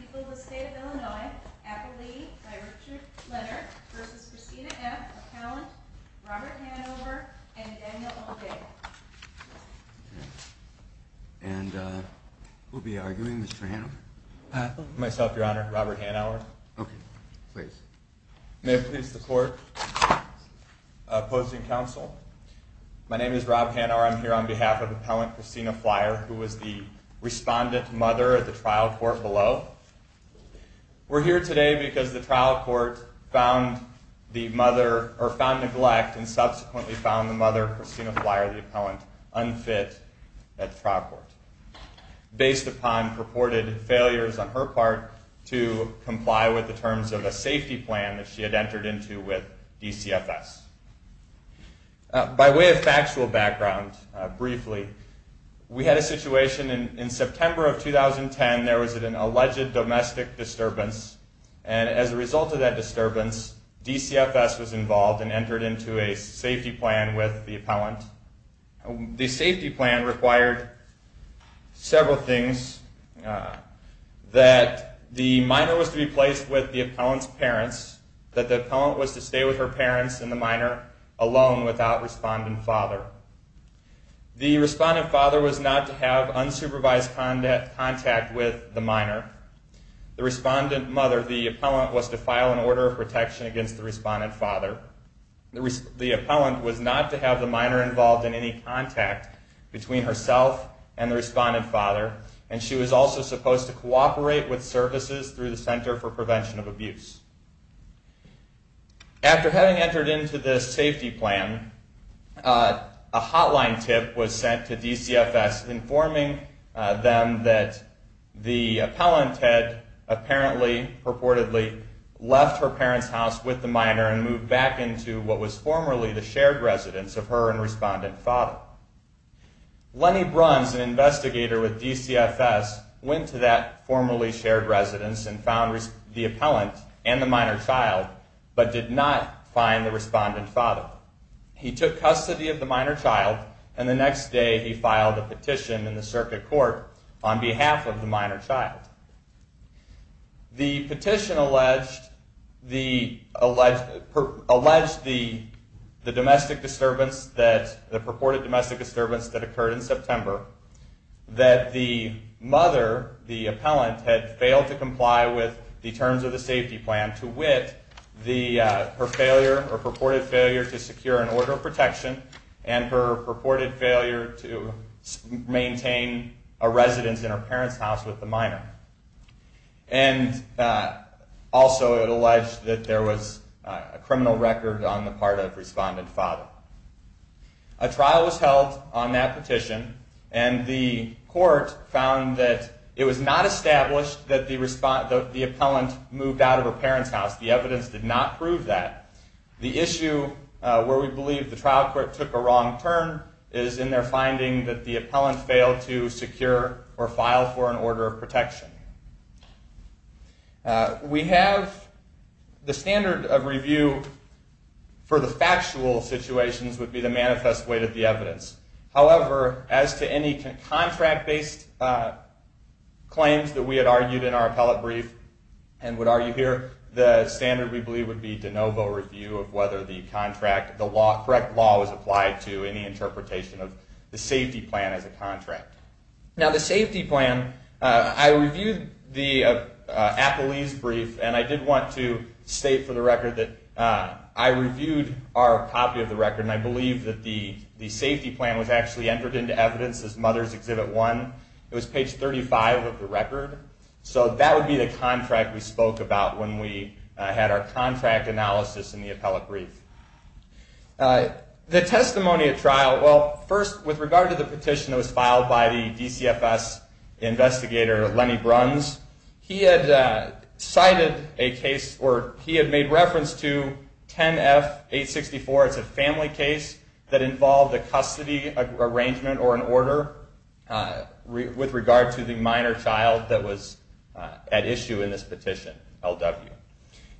People of the State of Illinois, Apple Lee, by Richard Leonard, versus Christina F. McCallant, Robert Hanover, and Daniel O'Day. And who will be arguing, Mr. Hanover? Myself, Your Honor. Robert Hanover. Okay. Please. May it please the Court. Opposing counsel. My name is Rob Hanover. I'm here on behalf of Appellant Christina Flier, who was the respondent mother at the trial court below. We're here today because the trial court found neglect and subsequently found the mother, Christina Flier, the appellant, unfit at the trial court based upon purported failures on her part to comply with the terms of a safety plan that she had entered into with DCFS. By way of factual background, briefly, we had a situation in September of 2010. There was an alleged domestic disturbance, and as a result of that disturbance, DCFS was involved and entered into a safety plan with the appellant. The safety plan required several things, that the minor was to be placed with the appellant's parents, that the appellant was to stay with her parents and the minor alone without respondent father. The respondent father was not to have unsupervised contact with the minor. The respondent mother, the appellant, was to file an order of protection against the respondent father. The appellant was not to have the minor involved in any contact between herself and the respondent father, and she was also supposed to cooperate with services through the Center for Prevention of Abuse. After having entered into this safety plan, a hotline tip was sent to DCFS informing them that the appellant had apparently, purportedly, left her parents' house with the minor and moved back into what was formerly the shared residence of her and respondent father. Lenny Bruns, an investigator with DCFS, went to that formerly shared residence and found the appellant and the minor child, but did not find the respondent father. He took custody of the minor child, and the next day he filed a petition in the circuit court on behalf of the minor child. The petition alleged the purported domestic disturbance that occurred in September, that the mother, the appellant, had failed to comply with the terms of the safety plan to wit her purported failure to secure an order of protection and her purported failure to maintain a residence in her parents' house with the minor. And also it alleged that there was a criminal record on the part of respondent father. A trial was held on that petition, and the court found that it was not established that the appellant moved out of her parents' house. The evidence did not prove that. The issue where we believe the trial court took a wrong turn is in their finding that the appellant failed to secure or file for an order of protection. The standard of review for the factual situations would be the manifest weight of the evidence. However, as to any contract-based claims that we had argued in our appellate brief and would argue here, the standard we believe would be de novo review of whether the correct law was applied to any interpretation of the safety plan as a contract. Now the safety plan, I reviewed the appellee's brief, and I did want to state for the record that I reviewed our copy of the record, and I believe that the safety plan was actually entered into evidence as Mother's Exhibit 1. It was page 35 of the record. So that would be the contract we spoke about when we had our contract analysis in the appellate brief. The testimony at trial, well, first, with regard to the petition that was filed by the DCFS investigator, Lenny Bruns, he had cited a case, or he had made reference to 10F-864. It's a family case that involved a custody arrangement or an order with regard to the minor child that was at issue in this petition, LW.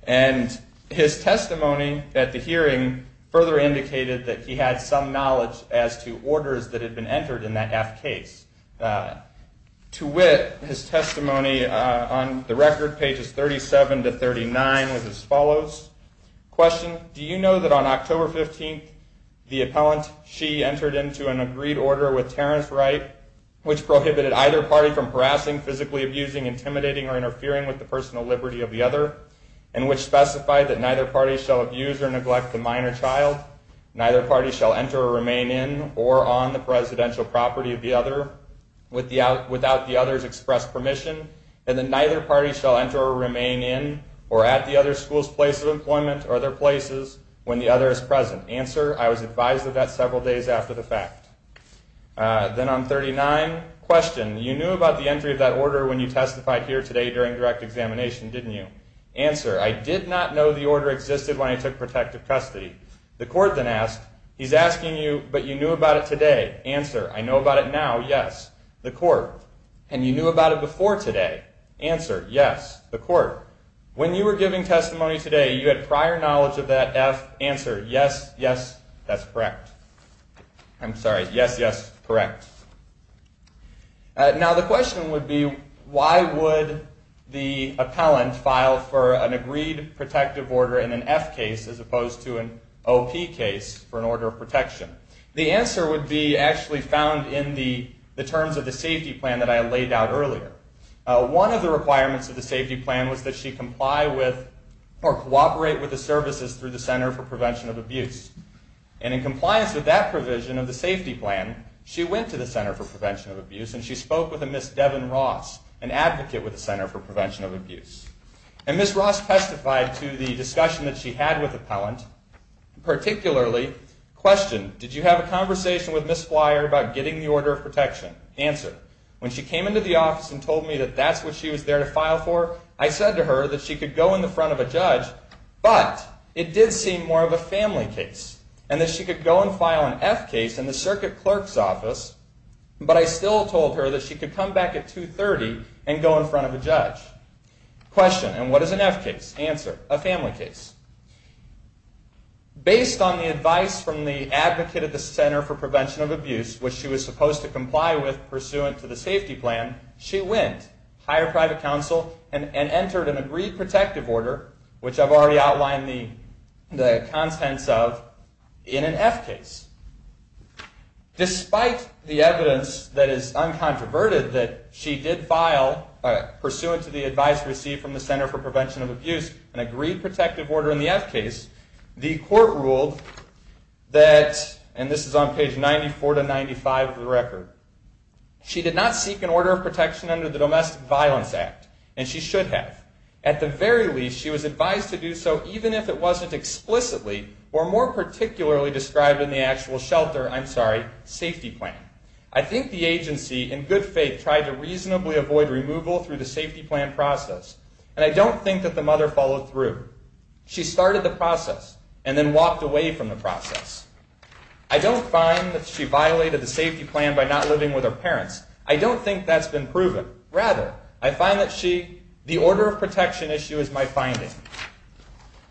And his testimony at the hearing further indicated that he had some knowledge as to orders that had been entered in that F case. To wit, his testimony on the record, pages 37 to 39, was as follows. Question, do you know that on October 15th, the appellant, she entered into an agreed order with Terrence Wright, which prohibited either party from harassing, physically abusing, intimidating, or interfering with the personal liberty of the other, and which specified that neither party shall abuse or neglect the minor child, neither party shall enter or remain in or on the presidential property of the other without the other's expressed permission, and that neither party shall enter or remain in or at the other school's place of employment or other places when the other is present? Answer, I was advised of that several days after the fact. Then on 39, question, you knew about the entry of that order when you testified here today during direct examination, didn't you? Answer, I did not know the order existed when I took protective custody. The court then asked, he's asking you, but you knew about it today? Answer, I know about it now, yes. The court, and you knew about it before today? Answer, yes. The court, when you were giving testimony today, you had prior knowledge of that F? Answer, yes, yes, that's correct. I'm sorry, yes, yes, correct. Now the question would be, why would the appellant file for an agreed protective order in an F case as opposed to an OP case for an order of protection? The answer would be actually found in the terms of the safety plan that I laid out earlier. One of the requirements of the safety plan was that she comply with or cooperate with the services through the Center for Prevention of Abuse. And in compliance with that provision of the safety plan, she went to the Center for Prevention of Abuse and she spoke with a Ms. Devin Ross, an advocate with the Center for Prevention of Abuse. And Ms. Ross testified to the discussion that she had with the appellant, particularly, question, did you have a conversation with Ms. Flier about getting the order of protection? Answer, when she came into the office and told me that that's what she was there to file for, I said to her that she could go in the front of a judge, but it did seem more of a family case, and that she could go and file an F case in the circuit clerk's office, but I still told her that she could come back at 2.30 and go in front of a judge. Question, and what is an F case? Answer, a family case. Based on the advice from the advocate at the Center for Prevention of Abuse, which she was supposed to comply with pursuant to the safety plan, she went, hired private counsel, and entered an agreed protective order, which I've already outlined the contents of, in an F case. Despite the evidence that is uncontroverted that she did file, pursuant to the advice received from the Center for Prevention of Abuse, an agreed protective order in the F case, the court ruled that, She did not seek an order of protection under the Domestic Violence Act, and she should have. At the very least, she was advised to do so even if it wasn't explicitly, or more particularly described in the actual shelter, I'm sorry, safety plan. I think the agency, in good faith, tried to reasonably avoid removal through the safety plan process, and I don't think that the mother followed through. She started the process, and then walked away from the process. I don't find that she violated the safety plan by not living with her parents. I don't think that's been proven. Rather, I find that the order of protection issue is my finding.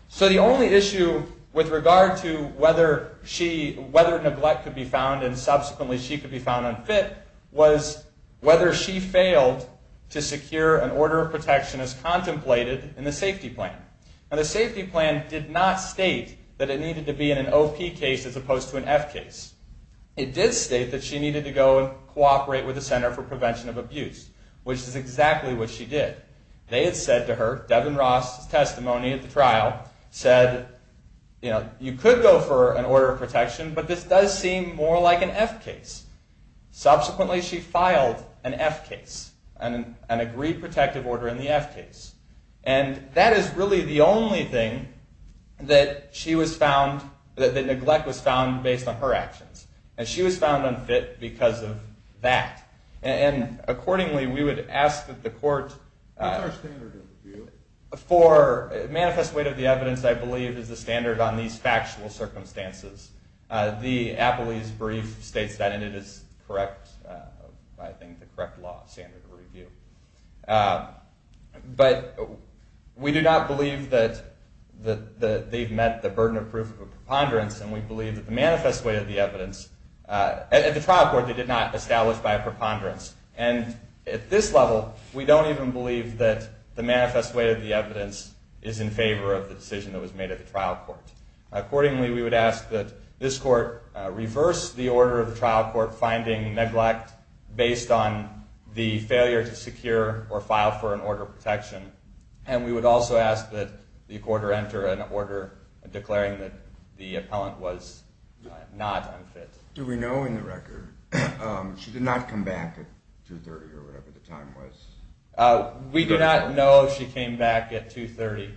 So the only issue with regard to whether neglect could be found, and subsequently she could be found unfit, was whether she failed to secure an order of protection as contemplated in the safety plan. Now the safety plan did not state that it needed to be in an OP case as opposed to an F case. It did state that she needed to go and cooperate with the Center for Prevention of Abuse, which is exactly what she did. They had said to her, Devin Ross' testimony at the trial said, you know, you could go for an order of protection, but this does seem more like an F case. Subsequently, she filed an F case, an agreed protective order in the F case. And that is really the only thing that she was found, that neglect was found based on her actions. And she was found unfit because of that. And accordingly, we would ask that the court... What's our standard of review? For manifest weight of the evidence, I believe, is the standard on these factual circumstances. The Appley's brief states that, and it is correct, I think, the correct law standard of review. But we do not believe that they've met the burden of proof of preponderance, and we believe that the manifest weight of the evidence... At the trial court, they did not establish by a preponderance. And at this level, we don't even believe that the manifest weight of the evidence is in favor of the decision that was made at the trial court. Accordingly, we would ask that this court reverse the order of the trial court finding neglect based on the failure to secure or file for an order of protection. And we would also ask that the court enter an order declaring that the appellant was not unfit. Do we know in the record, she did not come back at 2.30 or whatever the time was? We do not know if she came back at 2.30.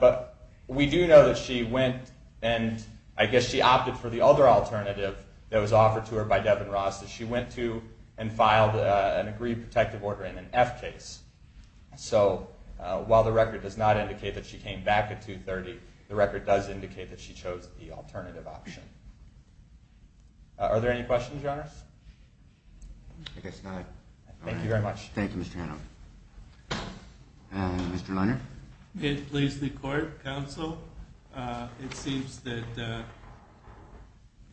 But we do know that she went, and I guess she opted for the other alternative that was offered to her by Devin Ross. She went to and filed an agreed protective order in an F case. So while the record does not indicate that she came back at 2.30, the record does indicate that she chose the alternative option. Are there any questions, Your Honor? I guess not. Thank you very much. Thank you, Mr. Hanover. Mr. Lunder? It pleases the court, counsel. It seems that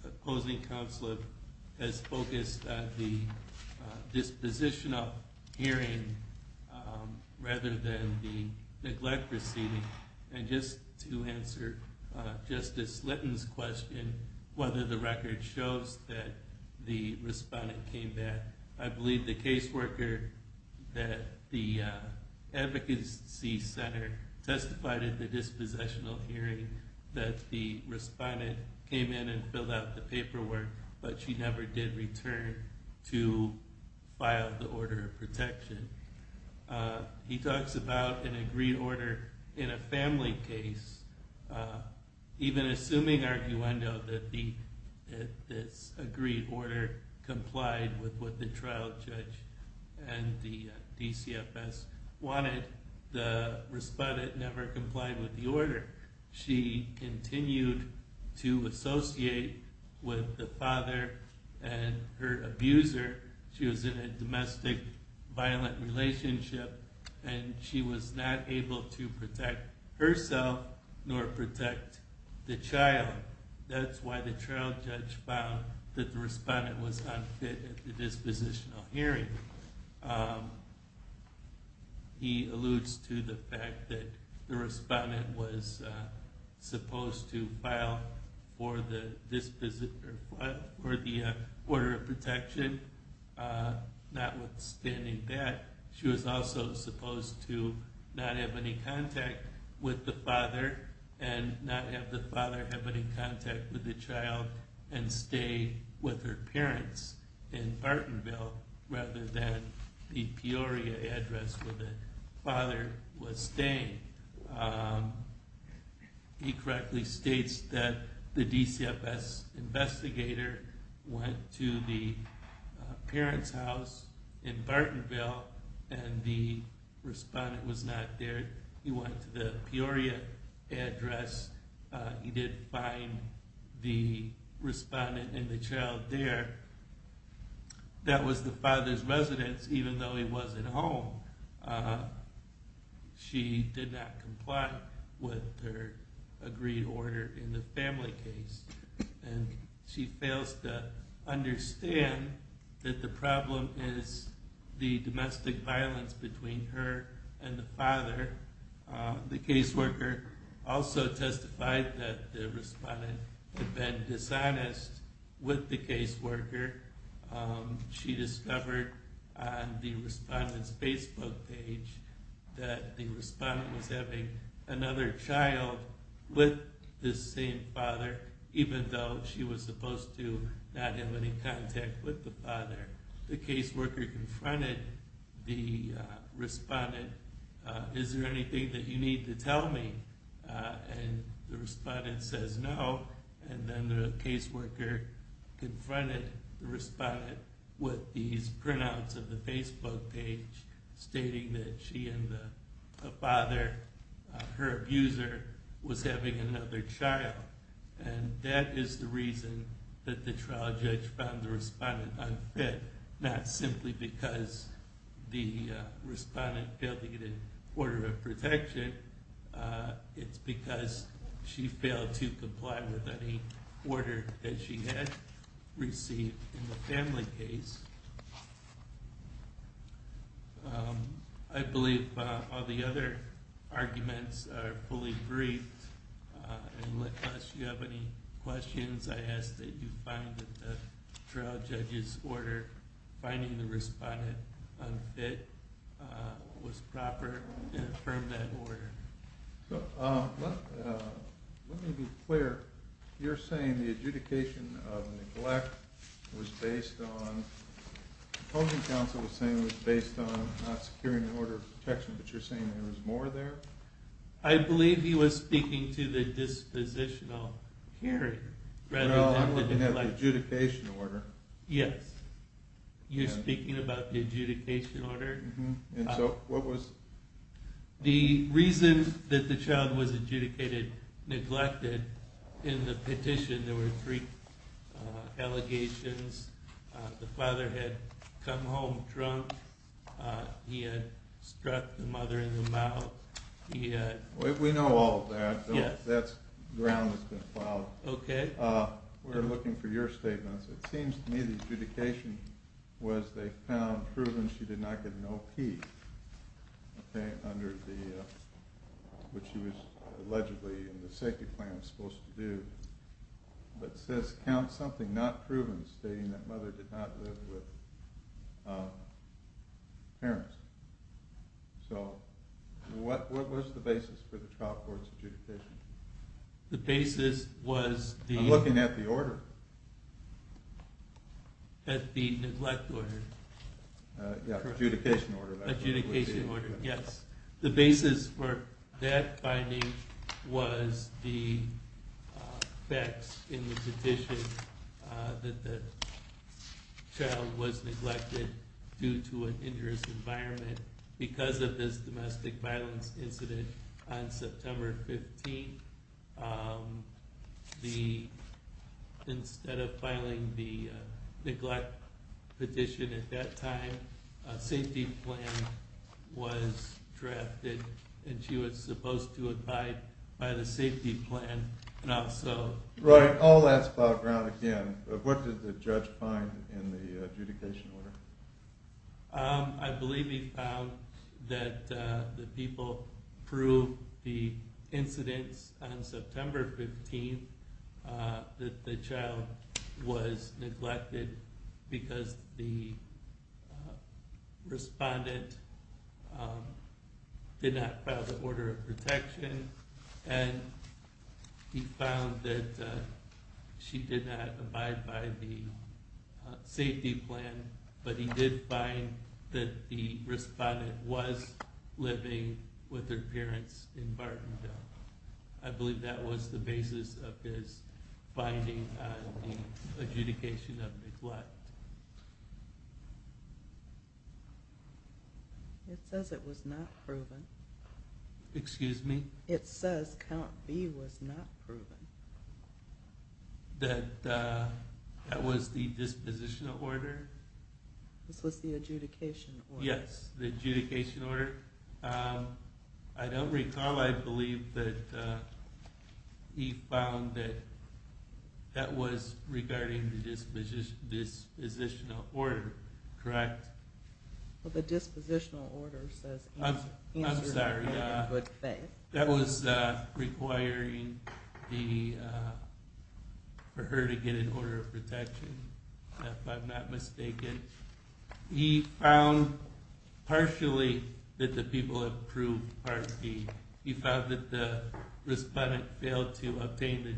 opposing counsel has focused on the disposition of hearing rather than the neglect proceeding. And just to answer Justice Litton's question, whether the record shows that the respondent came back, I believe the caseworker at the advocacy center testified at the dispossessional hearing that the respondent came in and filled out the paperwork, but she never did return to file the order of protection. He talks about an agreed order in a family case, even assuming, arguendo, that this agreed order complied with what the trial judge and the DCFS wanted, the respondent never complied with the order. She continued to associate with the father and her abuser. She was in a domestic violent relationship, and she was not able to protect herself nor protect the child. That's why the trial judge found that the respondent was unfit at the dispositional hearing. He alludes to the fact that the respondent was supposed to file for the order of protection. Notwithstanding that, she was also supposed to not have any contact with the father and not have the father have any contact with the child and stay with her parents in Bartonville rather than the Peoria address where the father was staying. He correctly states that the DCFS investigator went to the parents' house in Bartonville and the respondent was not there. He went to the Peoria address. He did find the respondent and the child there. That was the father's residence, even though he wasn't home. She did not comply with her agreed order in the family case, and she fails to understand that the problem is the domestic violence between her and the father. The caseworker also testified that the respondent had been dishonest with the caseworker. She discovered on the respondent's Facebook page that the respondent was having another child with the same father, even though she was supposed to not have any contact with the father. The caseworker confronted the respondent, Is there anything that you need to tell me? The respondent says no. Then the caseworker confronted the respondent with these printouts of the Facebook page stating that she and the father, her abuser, was having another child. That is the reason that the trial judge found the respondent unfit, not simply because the respondent failed to get an order of protection. It's because she failed to comply with any order that she had received in the family case. I believe all the other arguments are fully briefed. Unless you have any questions, I ask that you find that the trial judge's order finding the respondent unfit was proper and affirmed that order. Let me be clear, you're saying the adjudication of neglect was based on, the opposing counsel was saying it was based on not securing an order of protection, but you're saying there was more there? I believe he was speaking to the dispositional hearing. No, I'm looking at the adjudication order. Yes, you're speaking about the adjudication order? So what was... The reason that the child was adjudicated neglected in the petition, there were three allegations, the father had come home drunk, he had struck the mother in the mouth, he had... We know all of that. Yes. That's ground that's been filed. Okay. We're looking for your statements. It seems to me the adjudication was they found proven she did not get an OP, which she was allegedly in the safety plan was supposed to do, but says count something not proven stating that mother did not live with parents. So what was the basis for the trial court's adjudication? The basis was the... I'm looking at the order. At the neglect order. Yes, adjudication order. Adjudication order, yes. The basis for that finding was the facts in the petition that the child was neglected due to an injurious environment because of this domestic violence incident on September 15th. Instead of filing the neglect petition at that time, a safety plan was drafted, and she was supposed to abide by the safety plan and also... Right, all that's about ground again. What did the judge find in the adjudication order? I believe he found that the people proved the incidents on September 15th that the child was neglected because the respondent did not file the order of protection, and he found that she did not abide by the safety plan, but he did find that the respondent was living with her parents in Bartendale. I believe that was the basis of his finding on the adjudication of neglect. It says it was not proven. Excuse me? It says count B was not proven. That was the disposition order? This was the adjudication order. Yes, the adjudication order. I don't recall. I believe that he found that that was regarding the dispositional order, correct? Well, the dispositional order says... I'm sorry. That was requiring for her to get an order of protection, if I'm not mistaken. He found partially that the people have proved part B. He found that the respondent failed to obtain the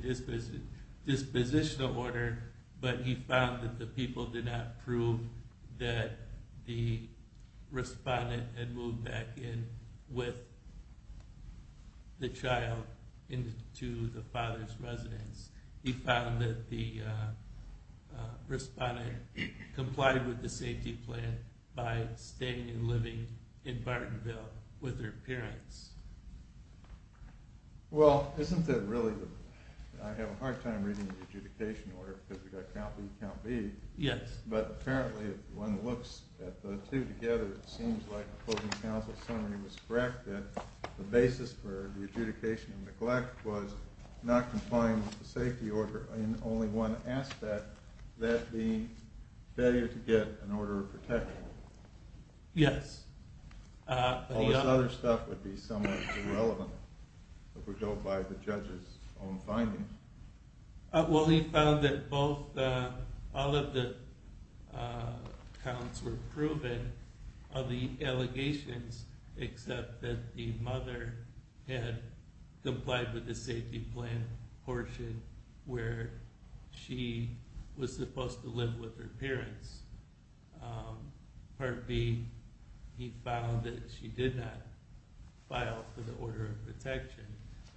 dispositional order, but he found that the people did not prove that the respondent had moved back in with the child into the father's residence. He found that the respondent complied with the safety plan by staying and living in Bartendale with her parents. Well, isn't that really the... I have a hard time reading the adjudication order because we've got count B, count B. Yes. But apparently if one looks at the two together, it seems like the closing counsel summary was correct, that the basis for the adjudication of neglect was not complying with the safety order, and only one asked that, that being failure to get an order of protection. Yes. All this other stuff would be somewhat irrelevant if we don't buy the judge's own findings. Well, he found that all of the counts were proven of the allegations except that the mother had complied with the safety plan portion where she was supposed to live with her parents. Part B, he found that she did not file for the order of protection.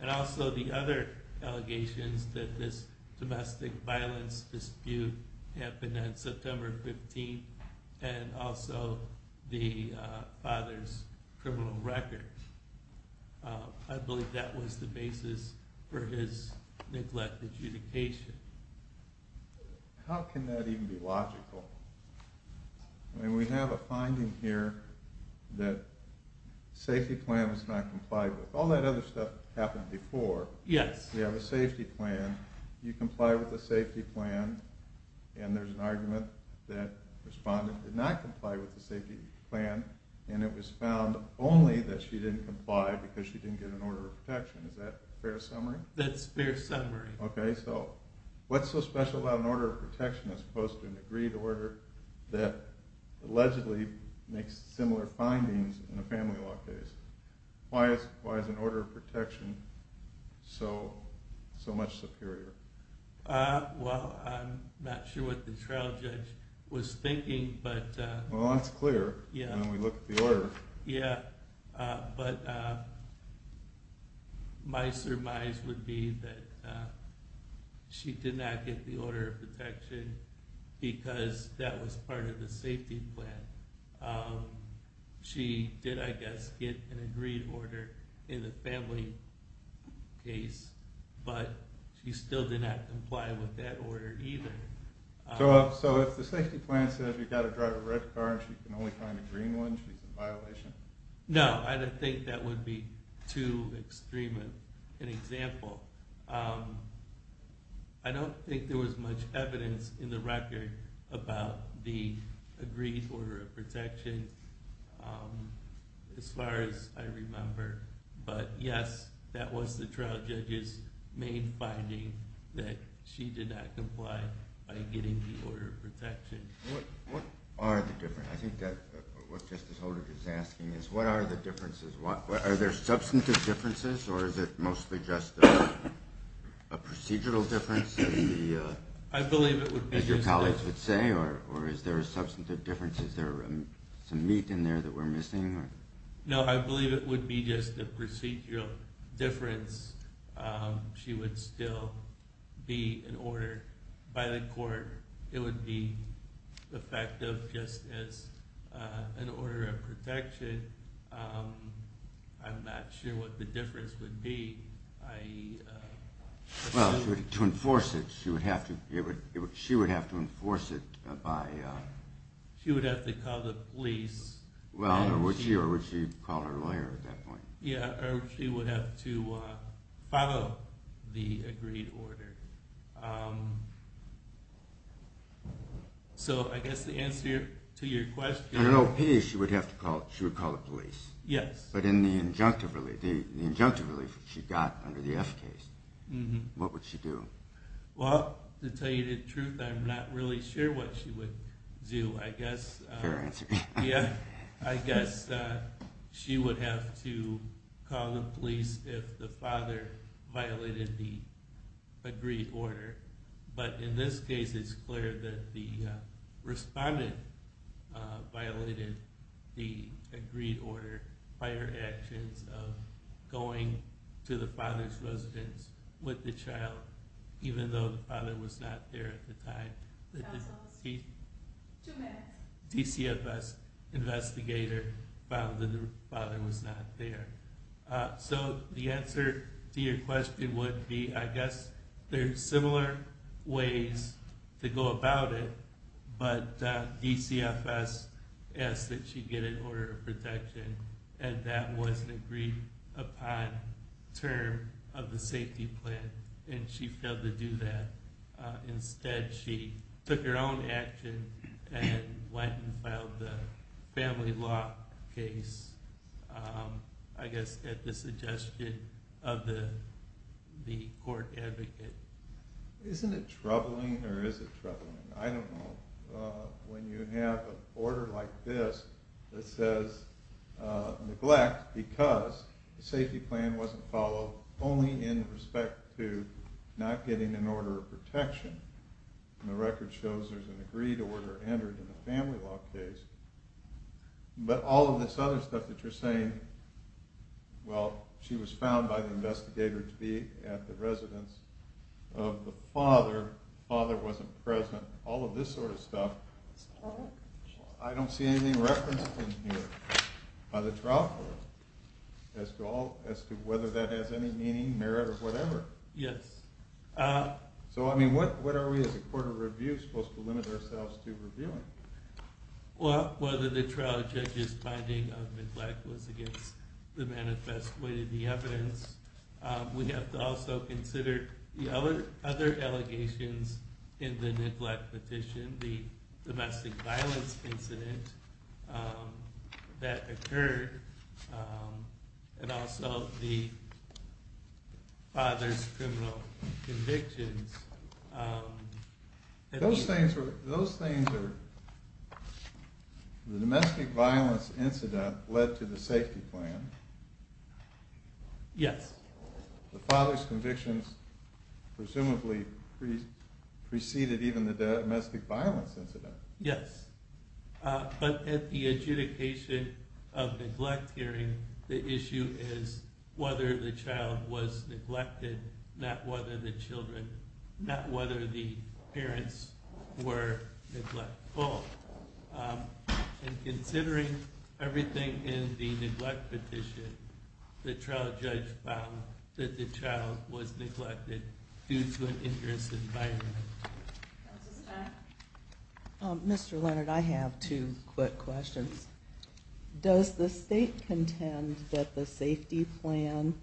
And also the other allegations that this domestic violence dispute happened on September 15th and also the father's criminal record. I believe that was the basis for his neglect adjudication. How can that even be logical? I mean, we have a finding here that safety plan was not complied with. All that other stuff happened before. Yes. We have a safety plan. You comply with the safety plan, and there's an argument that the respondent did not comply with the safety plan, and it was found only that she didn't comply because she didn't get an order of protection. Is that a fair summary? That's a fair summary. Okay, so what's so special about an order of protection as opposed to an agreed order that allegedly makes similar findings in a family law case? Why is an order of protection so much superior? Well, I'm not sure what the trial judge was thinking. Well, that's clear when we look at the order. Yeah, but my surmise would be that she did not get the order of protection because that was part of the safety plan. She did, I guess, get an agreed order in the family case, but she still did not comply with that order either. So if the safety plan says you've got to drive a red car and she can only find a green one, she's in violation? No, I don't think that would be too extreme an example. I don't think there was much evidence in the record about the agreed order of protection as far as I remember, but, yes, that was the trial judge's main finding, that she did not comply by getting the order of protection. What are the differences? I think what Justice Holder is asking is what are the differences? Are there substantive differences or is it mostly just a procedural difference, as your colleagues would say, or is there a substantive difference? Is there some meat in there that we're missing? No, I believe it would be just a procedural difference. It would be effective just as an order of protection. I'm not sure what the difference would be. Well, to enforce it, she would have to enforce it by... She would have to call the police. Well, or would she call her lawyer at that point? Yeah, or she would have to follow the agreed order. So I guess the answer to your question... In an OP, she would have to call the police. Yes. But in the injunctive relief that she got under the F case, what would she do? Well, to tell you the truth, I'm not really sure what she would do. Fair answer. Yeah, I guess she would have to call the police if the father violated the agreed order. But in this case, it's clear that the respondent violated the agreed order by her actions of going to the father's residence with the child, even though the father was not there at the time. Two minutes. DCFS investigator found that the father was not there. So the answer to your question would be, I guess there are similar ways to go about it, but DCFS asked that she get an order of protection, and that wasn't agreed upon term of the safety plan, and she failed to do that. Instead, she took her own action and went and filed the family law case, I guess at the suggestion of the court advocate. Isn't it troubling, or is it troubling? I don't know. When you have an order like this that says neglect because the safety plan wasn't followed, only in respect to not getting an order of protection, and the record shows there's an agreed order entered in the family law case, but all of this other stuff that you're saying, well, she was found by the investigator to be at the residence of the father, the father wasn't present, all of this sort of stuff, I don't see anything referenced in here by the trial court as to whether that has any meaning, merit, or whatever. Yes. So, I mean, what are we as a court of review supposed to limit ourselves to reviewing? Well, whether the trial judge's finding of neglect was against the manifest way of the evidence, we have to also consider the other allegations in the neglect petition, the domestic violence incident that occurred, and also the father's criminal convictions. Those things are, the domestic violence incident led to the safety plan. Yes. The father's convictions presumably preceded even the domestic violence incident. Yes. But at the adjudication of neglect hearing, the issue is whether the child was neglected, not whether the parents were neglectful. And considering everything in the neglect petition, the trial judge found that the child was neglected due to an interest in violence. Counsel's back. Mr. Leonard, I have two quick questions. Does the state contend that the safety plan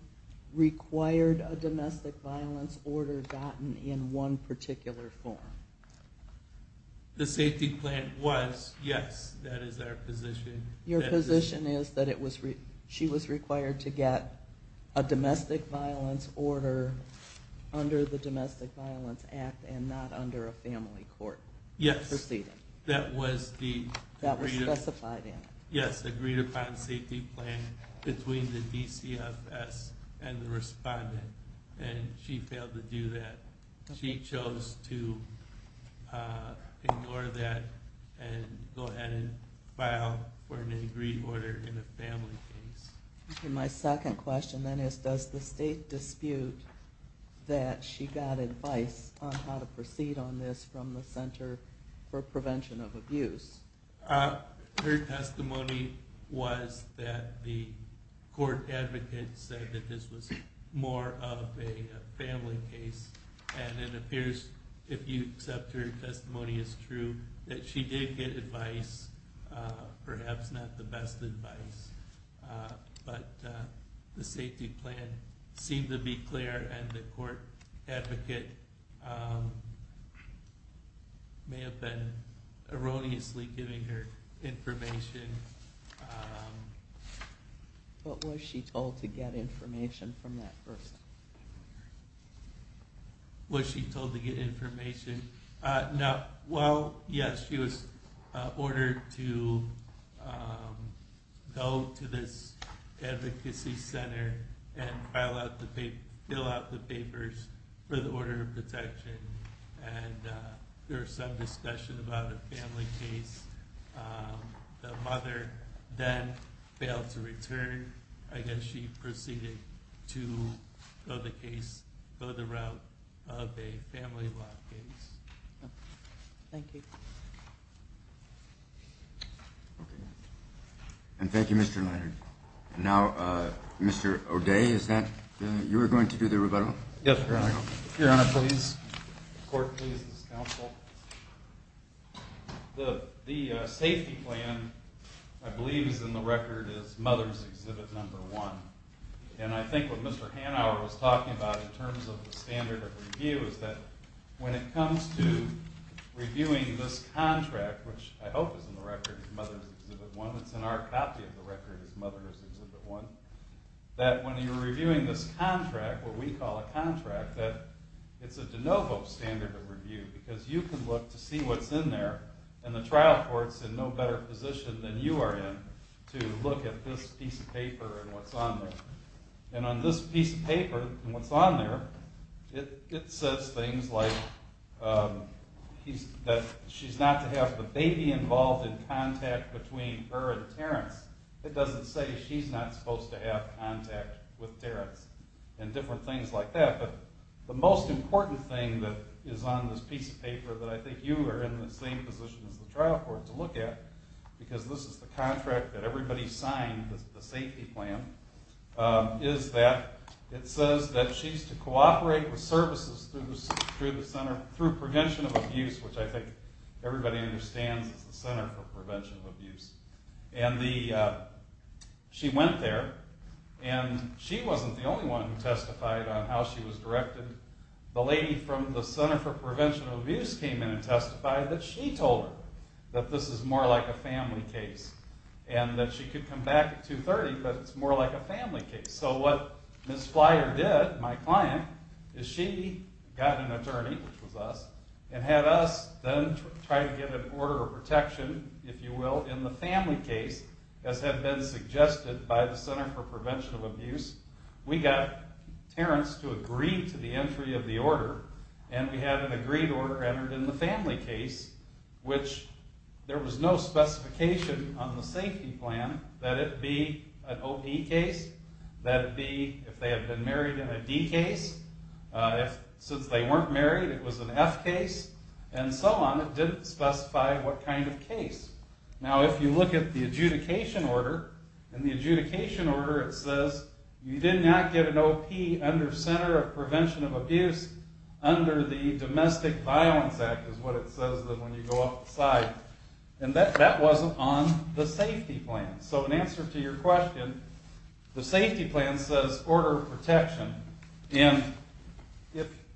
required a domestic violence order gotten in one particular form? The safety plan was, yes, that is our position. Your position is that she was required to get a domestic violence order under the Domestic Violence Act and not under a family court proceeding. Yes. That was specified in it. Yes, the agreed upon safety plan between the DCFS and the respondent, and she failed to do that. She chose to ignore that and go ahead and file for an agreed order in a family case. My second question then is, does the state dispute that she got advice on how to proceed on this from the Center for Prevention of Abuse? Her testimony was that the court advocate said that this was more of a family case, and it appears, if you accept her testimony as true, that she did get advice, perhaps not the best advice. But the safety plan seemed to be clear, and the court advocate may have been erroneously giving her information. But was she told to get information from that person? Was she told to get information? Well, yes, she was ordered to go to this advocacy center and fill out the papers for the order of protection, and there was some discussion about a family case. The mother then failed to return. I guess she proceeded to go the route of a family law case. Thank you. And thank you, Mr. Leonard. Now, Mr. O'Day, you were going to do the rebuttal? Yes, Your Honor. Your Honor, please. Court, please, this is counsel. The safety plan, I believe, is in the record as Mother's Exhibit No. 1, and I think what Mr. Hanauer was talking about in terms of the standard of review is that when it comes to reviewing this contract, which I hope is in the record as Mother's Exhibit 1, it's in our copy of the record as Mother's Exhibit 1, that when you're reviewing this contract, what we call a contract, that it's a de novo standard of review because you can look to see what's in there, and the trial court's in no better position than you are in to look at this piece of paper and what's on there. And on this piece of paper and what's on there, it says things like that she's not to have the baby involved in contact between her and Terrence. It doesn't say she's not supposed to have contact with Terrence and different things like that, but the most important thing that is on this piece of paper that I think you are in the same position as the trial court to look at, because this is the contract that everybody signed, the safety plan, is that it says that she's to cooperate with services through prevention of abuse, which I think everybody understands is the Center for Prevention of Abuse. And she went there, and she wasn't the only one who testified on how she was directed. The lady from the Center for Prevention of Abuse came in and testified that she told her that this is more like a family case, and that she could come back at 2.30, but it's more like a family case. So what Ms. Flyer did, my client, is she got an attorney, which was us, and had us then try to get an order of protection, if you will, in the family case, as had been suggested by the Center for Prevention of Abuse. We got Terrence to agree to the entry of the order, and we had an agreed order entered in the family case, which there was no specification on the safety plan that it be an OE case, that it be if they had been married in a D case. Since they weren't married, it was an F case, and so on. It didn't specify what kind of case. Now if you look at the adjudication order, in the adjudication order it says you did not get an OP under Center of Prevention of Abuse under the Domestic Violence Act, is what it says when you go outside. And that wasn't on the safety plan. So in answer to your question, the safety plan says order of protection, and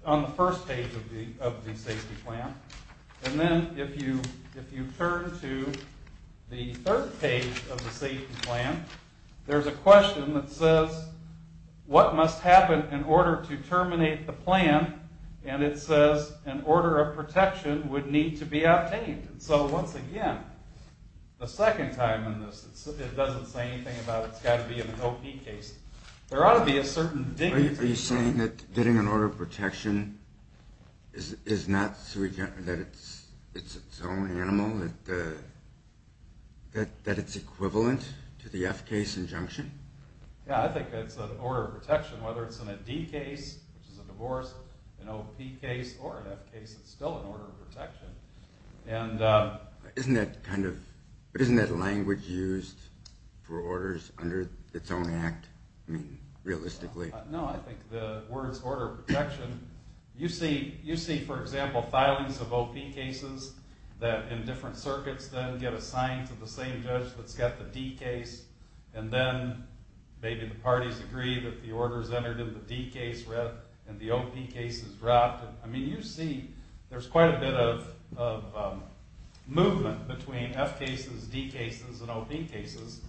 on the first page of the safety plan, and then if you turn to the third page of the safety plan, there's a question that says what must happen in order to terminate the plan, and it says an order of protection would need to be obtained. So once again, the second time in this, it doesn't say anything about it's got to be an OP case. There ought to be a certain dignity to it. Are you saying that getting an order of protection is not, that it's its own animal, that it's equivalent to the F case injunction? Yeah, I think it's an order of protection, whether it's in a D case, which is a divorce, an OP case, or an F case, it's still an order of protection. Isn't that language used for orders under its own act, realistically? No, I think the words order of protection, you see, for example, filings of OP cases that in different circuits then get assigned to the same judge that's got the D case, and then maybe the parties agree that the order's entered in the D case, and the OP case is dropped. I mean, you see there's quite a bit of movement between F cases, D cases, and OP cases,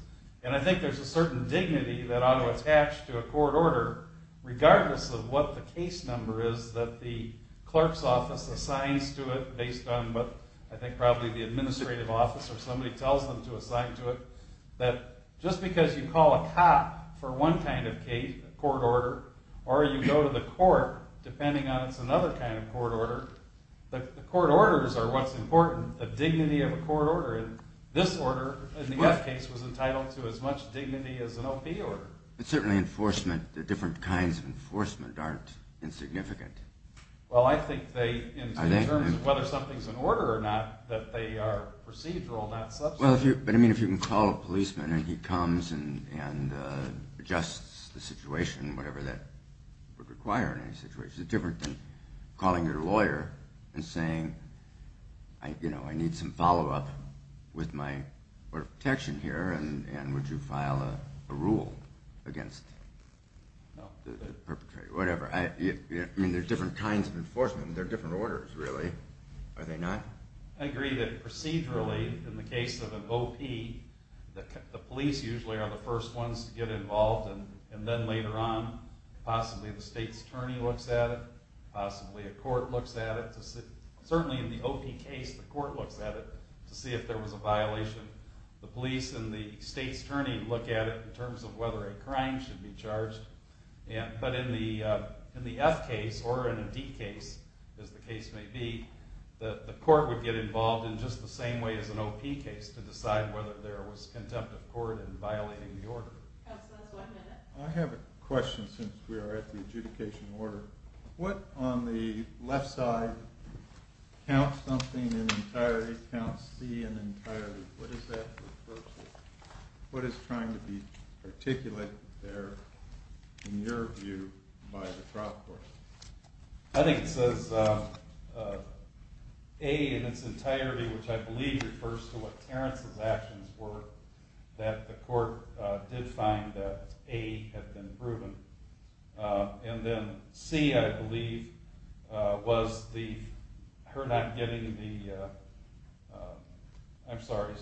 and I think there's a certain dignity that ought to attach to a court order, regardless of what the case number is that the clerk's office assigns to it, based on what I think probably the administrative office or somebody tells them to assign to it, that just because you call a cop for one kind of case, a court order, or you go to the court, depending on it's another kind of court order, the court orders are what's important, the dignity of a court order, and this order, in the F case, was entitled to as much dignity as an OP order. But certainly enforcement, the different kinds of enforcement aren't insignificant. Well, I think they, in terms of whether something's an order or not, that they are procedural, not substantive. But, I mean, if you can call a policeman and he comes and adjusts the situation, whatever that would require in any situation, it's different than calling your lawyer and saying, you know, I need some follow-up with my order of protection here, and would you file a rule against the perpetrator, whatever. I mean, there's different kinds of enforcement. They're different orders, really, are they not? I agree that procedurally, in the case of an OP, the police usually are the first ones to get involved, and then later on, possibly the state's attorney looks at it, possibly a court looks at it. Certainly in the OP case, the court looks at it to see if there was a violation. The police and the state's attorney look at it in terms of whether a crime should be charged. But in the F case, or in a D case, as the case may be, the court would get involved in just the same way as an OP case, to decide whether there was contempt of court in violating the order. Counsel, that's one minute. I have a question, since we are at the adjudication order. What on the left side counts something in entirety, counts C in entirety? What does that refer to? What is trying to be articulated there, in your view, by the trial court? I think it says A in its entirety, which I believe refers to what Terrence's actions were, that the court did find that A had been proven. And then C, I believe, was her not getting the... I'm sorry,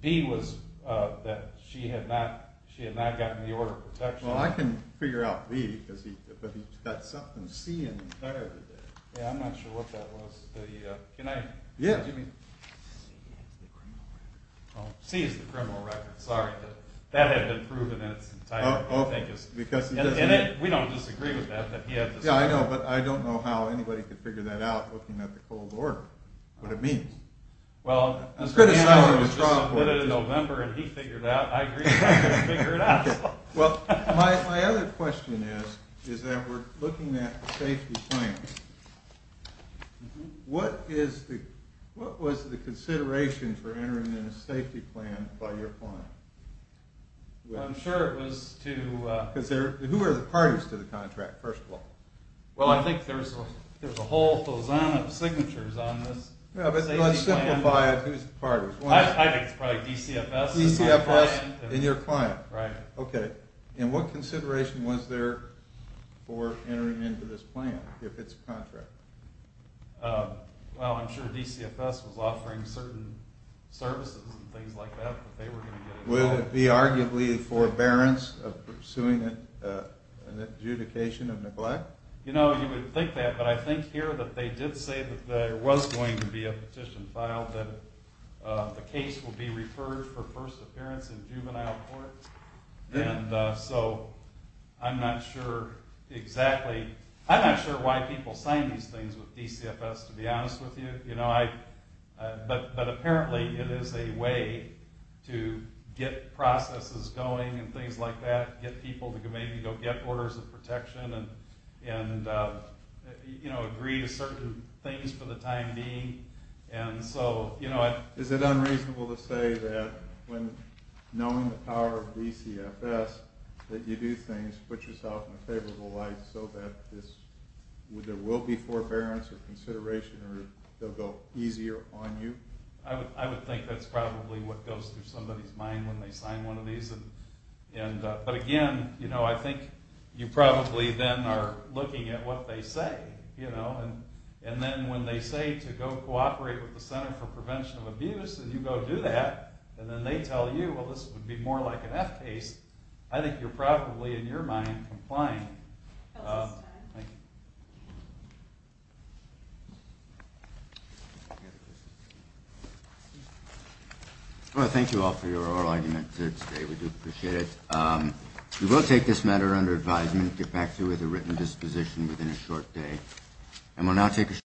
B was that she had not gotten the order of protection. Well, I can figure out B, but he's got something C in entirety there. Yeah, I'm not sure what that was. Can I... Yeah. C is the criminal record. Sorry, that had been proven in its entirety. And we don't disagree with that. Yeah, I know, but I don't know how anybody could figure that out looking at the cold order, what it means. Well, Mr. Hannon submitted it in November, and he figured it out. I agree with him, he figured it out. Well, my other question is, is that we're looking at the safety plan. What was the consideration for entering in a safety plan by your client? I'm sure it was to... Because who are the parties to the contract, first of all? Well, I think there's a whole pheasant of signatures on this safety plan. Yeah, but let's simplify it. Who's the parties? I think it's probably DCFS. DCFS and your client. Right. Okay, and what consideration was there for entering into this plan? If it's a contract. Well, I'm sure DCFS was offering certain services and things like that that they were going to get involved with. Would it be arguably forbearance of pursuing an adjudication of neglect? You know, you would think that, but I think here that they did say that there was going to be a petition filed, that the case would be referred for first appearance in juvenile court. And so I'm not sure exactly... I'm not sure why people sign these things with DCFS, to be honest with you. But apparently it is a way to get processes going and things like that, get people to maybe go get orders of protection and agree to certain things for the time being. Is it unreasonable to say that when knowing the power of DCFS that you do things, put yourself in a favorable light so that there will be forbearance or consideration or they'll go easier on you? I would think that's probably what goes through somebody's mind when they sign one of these. But again, I think you probably then are looking at what they say. And then when they say to go cooperate with the Center for Prevention of Abuse and you go do that, and then they tell you, well, this would be more like an F case, I think you're probably, in your mind, complying. Well, thank you all for your arguments today. We do appreciate it. We will take this matter under advisement, get back to you with a written disposition within a short day.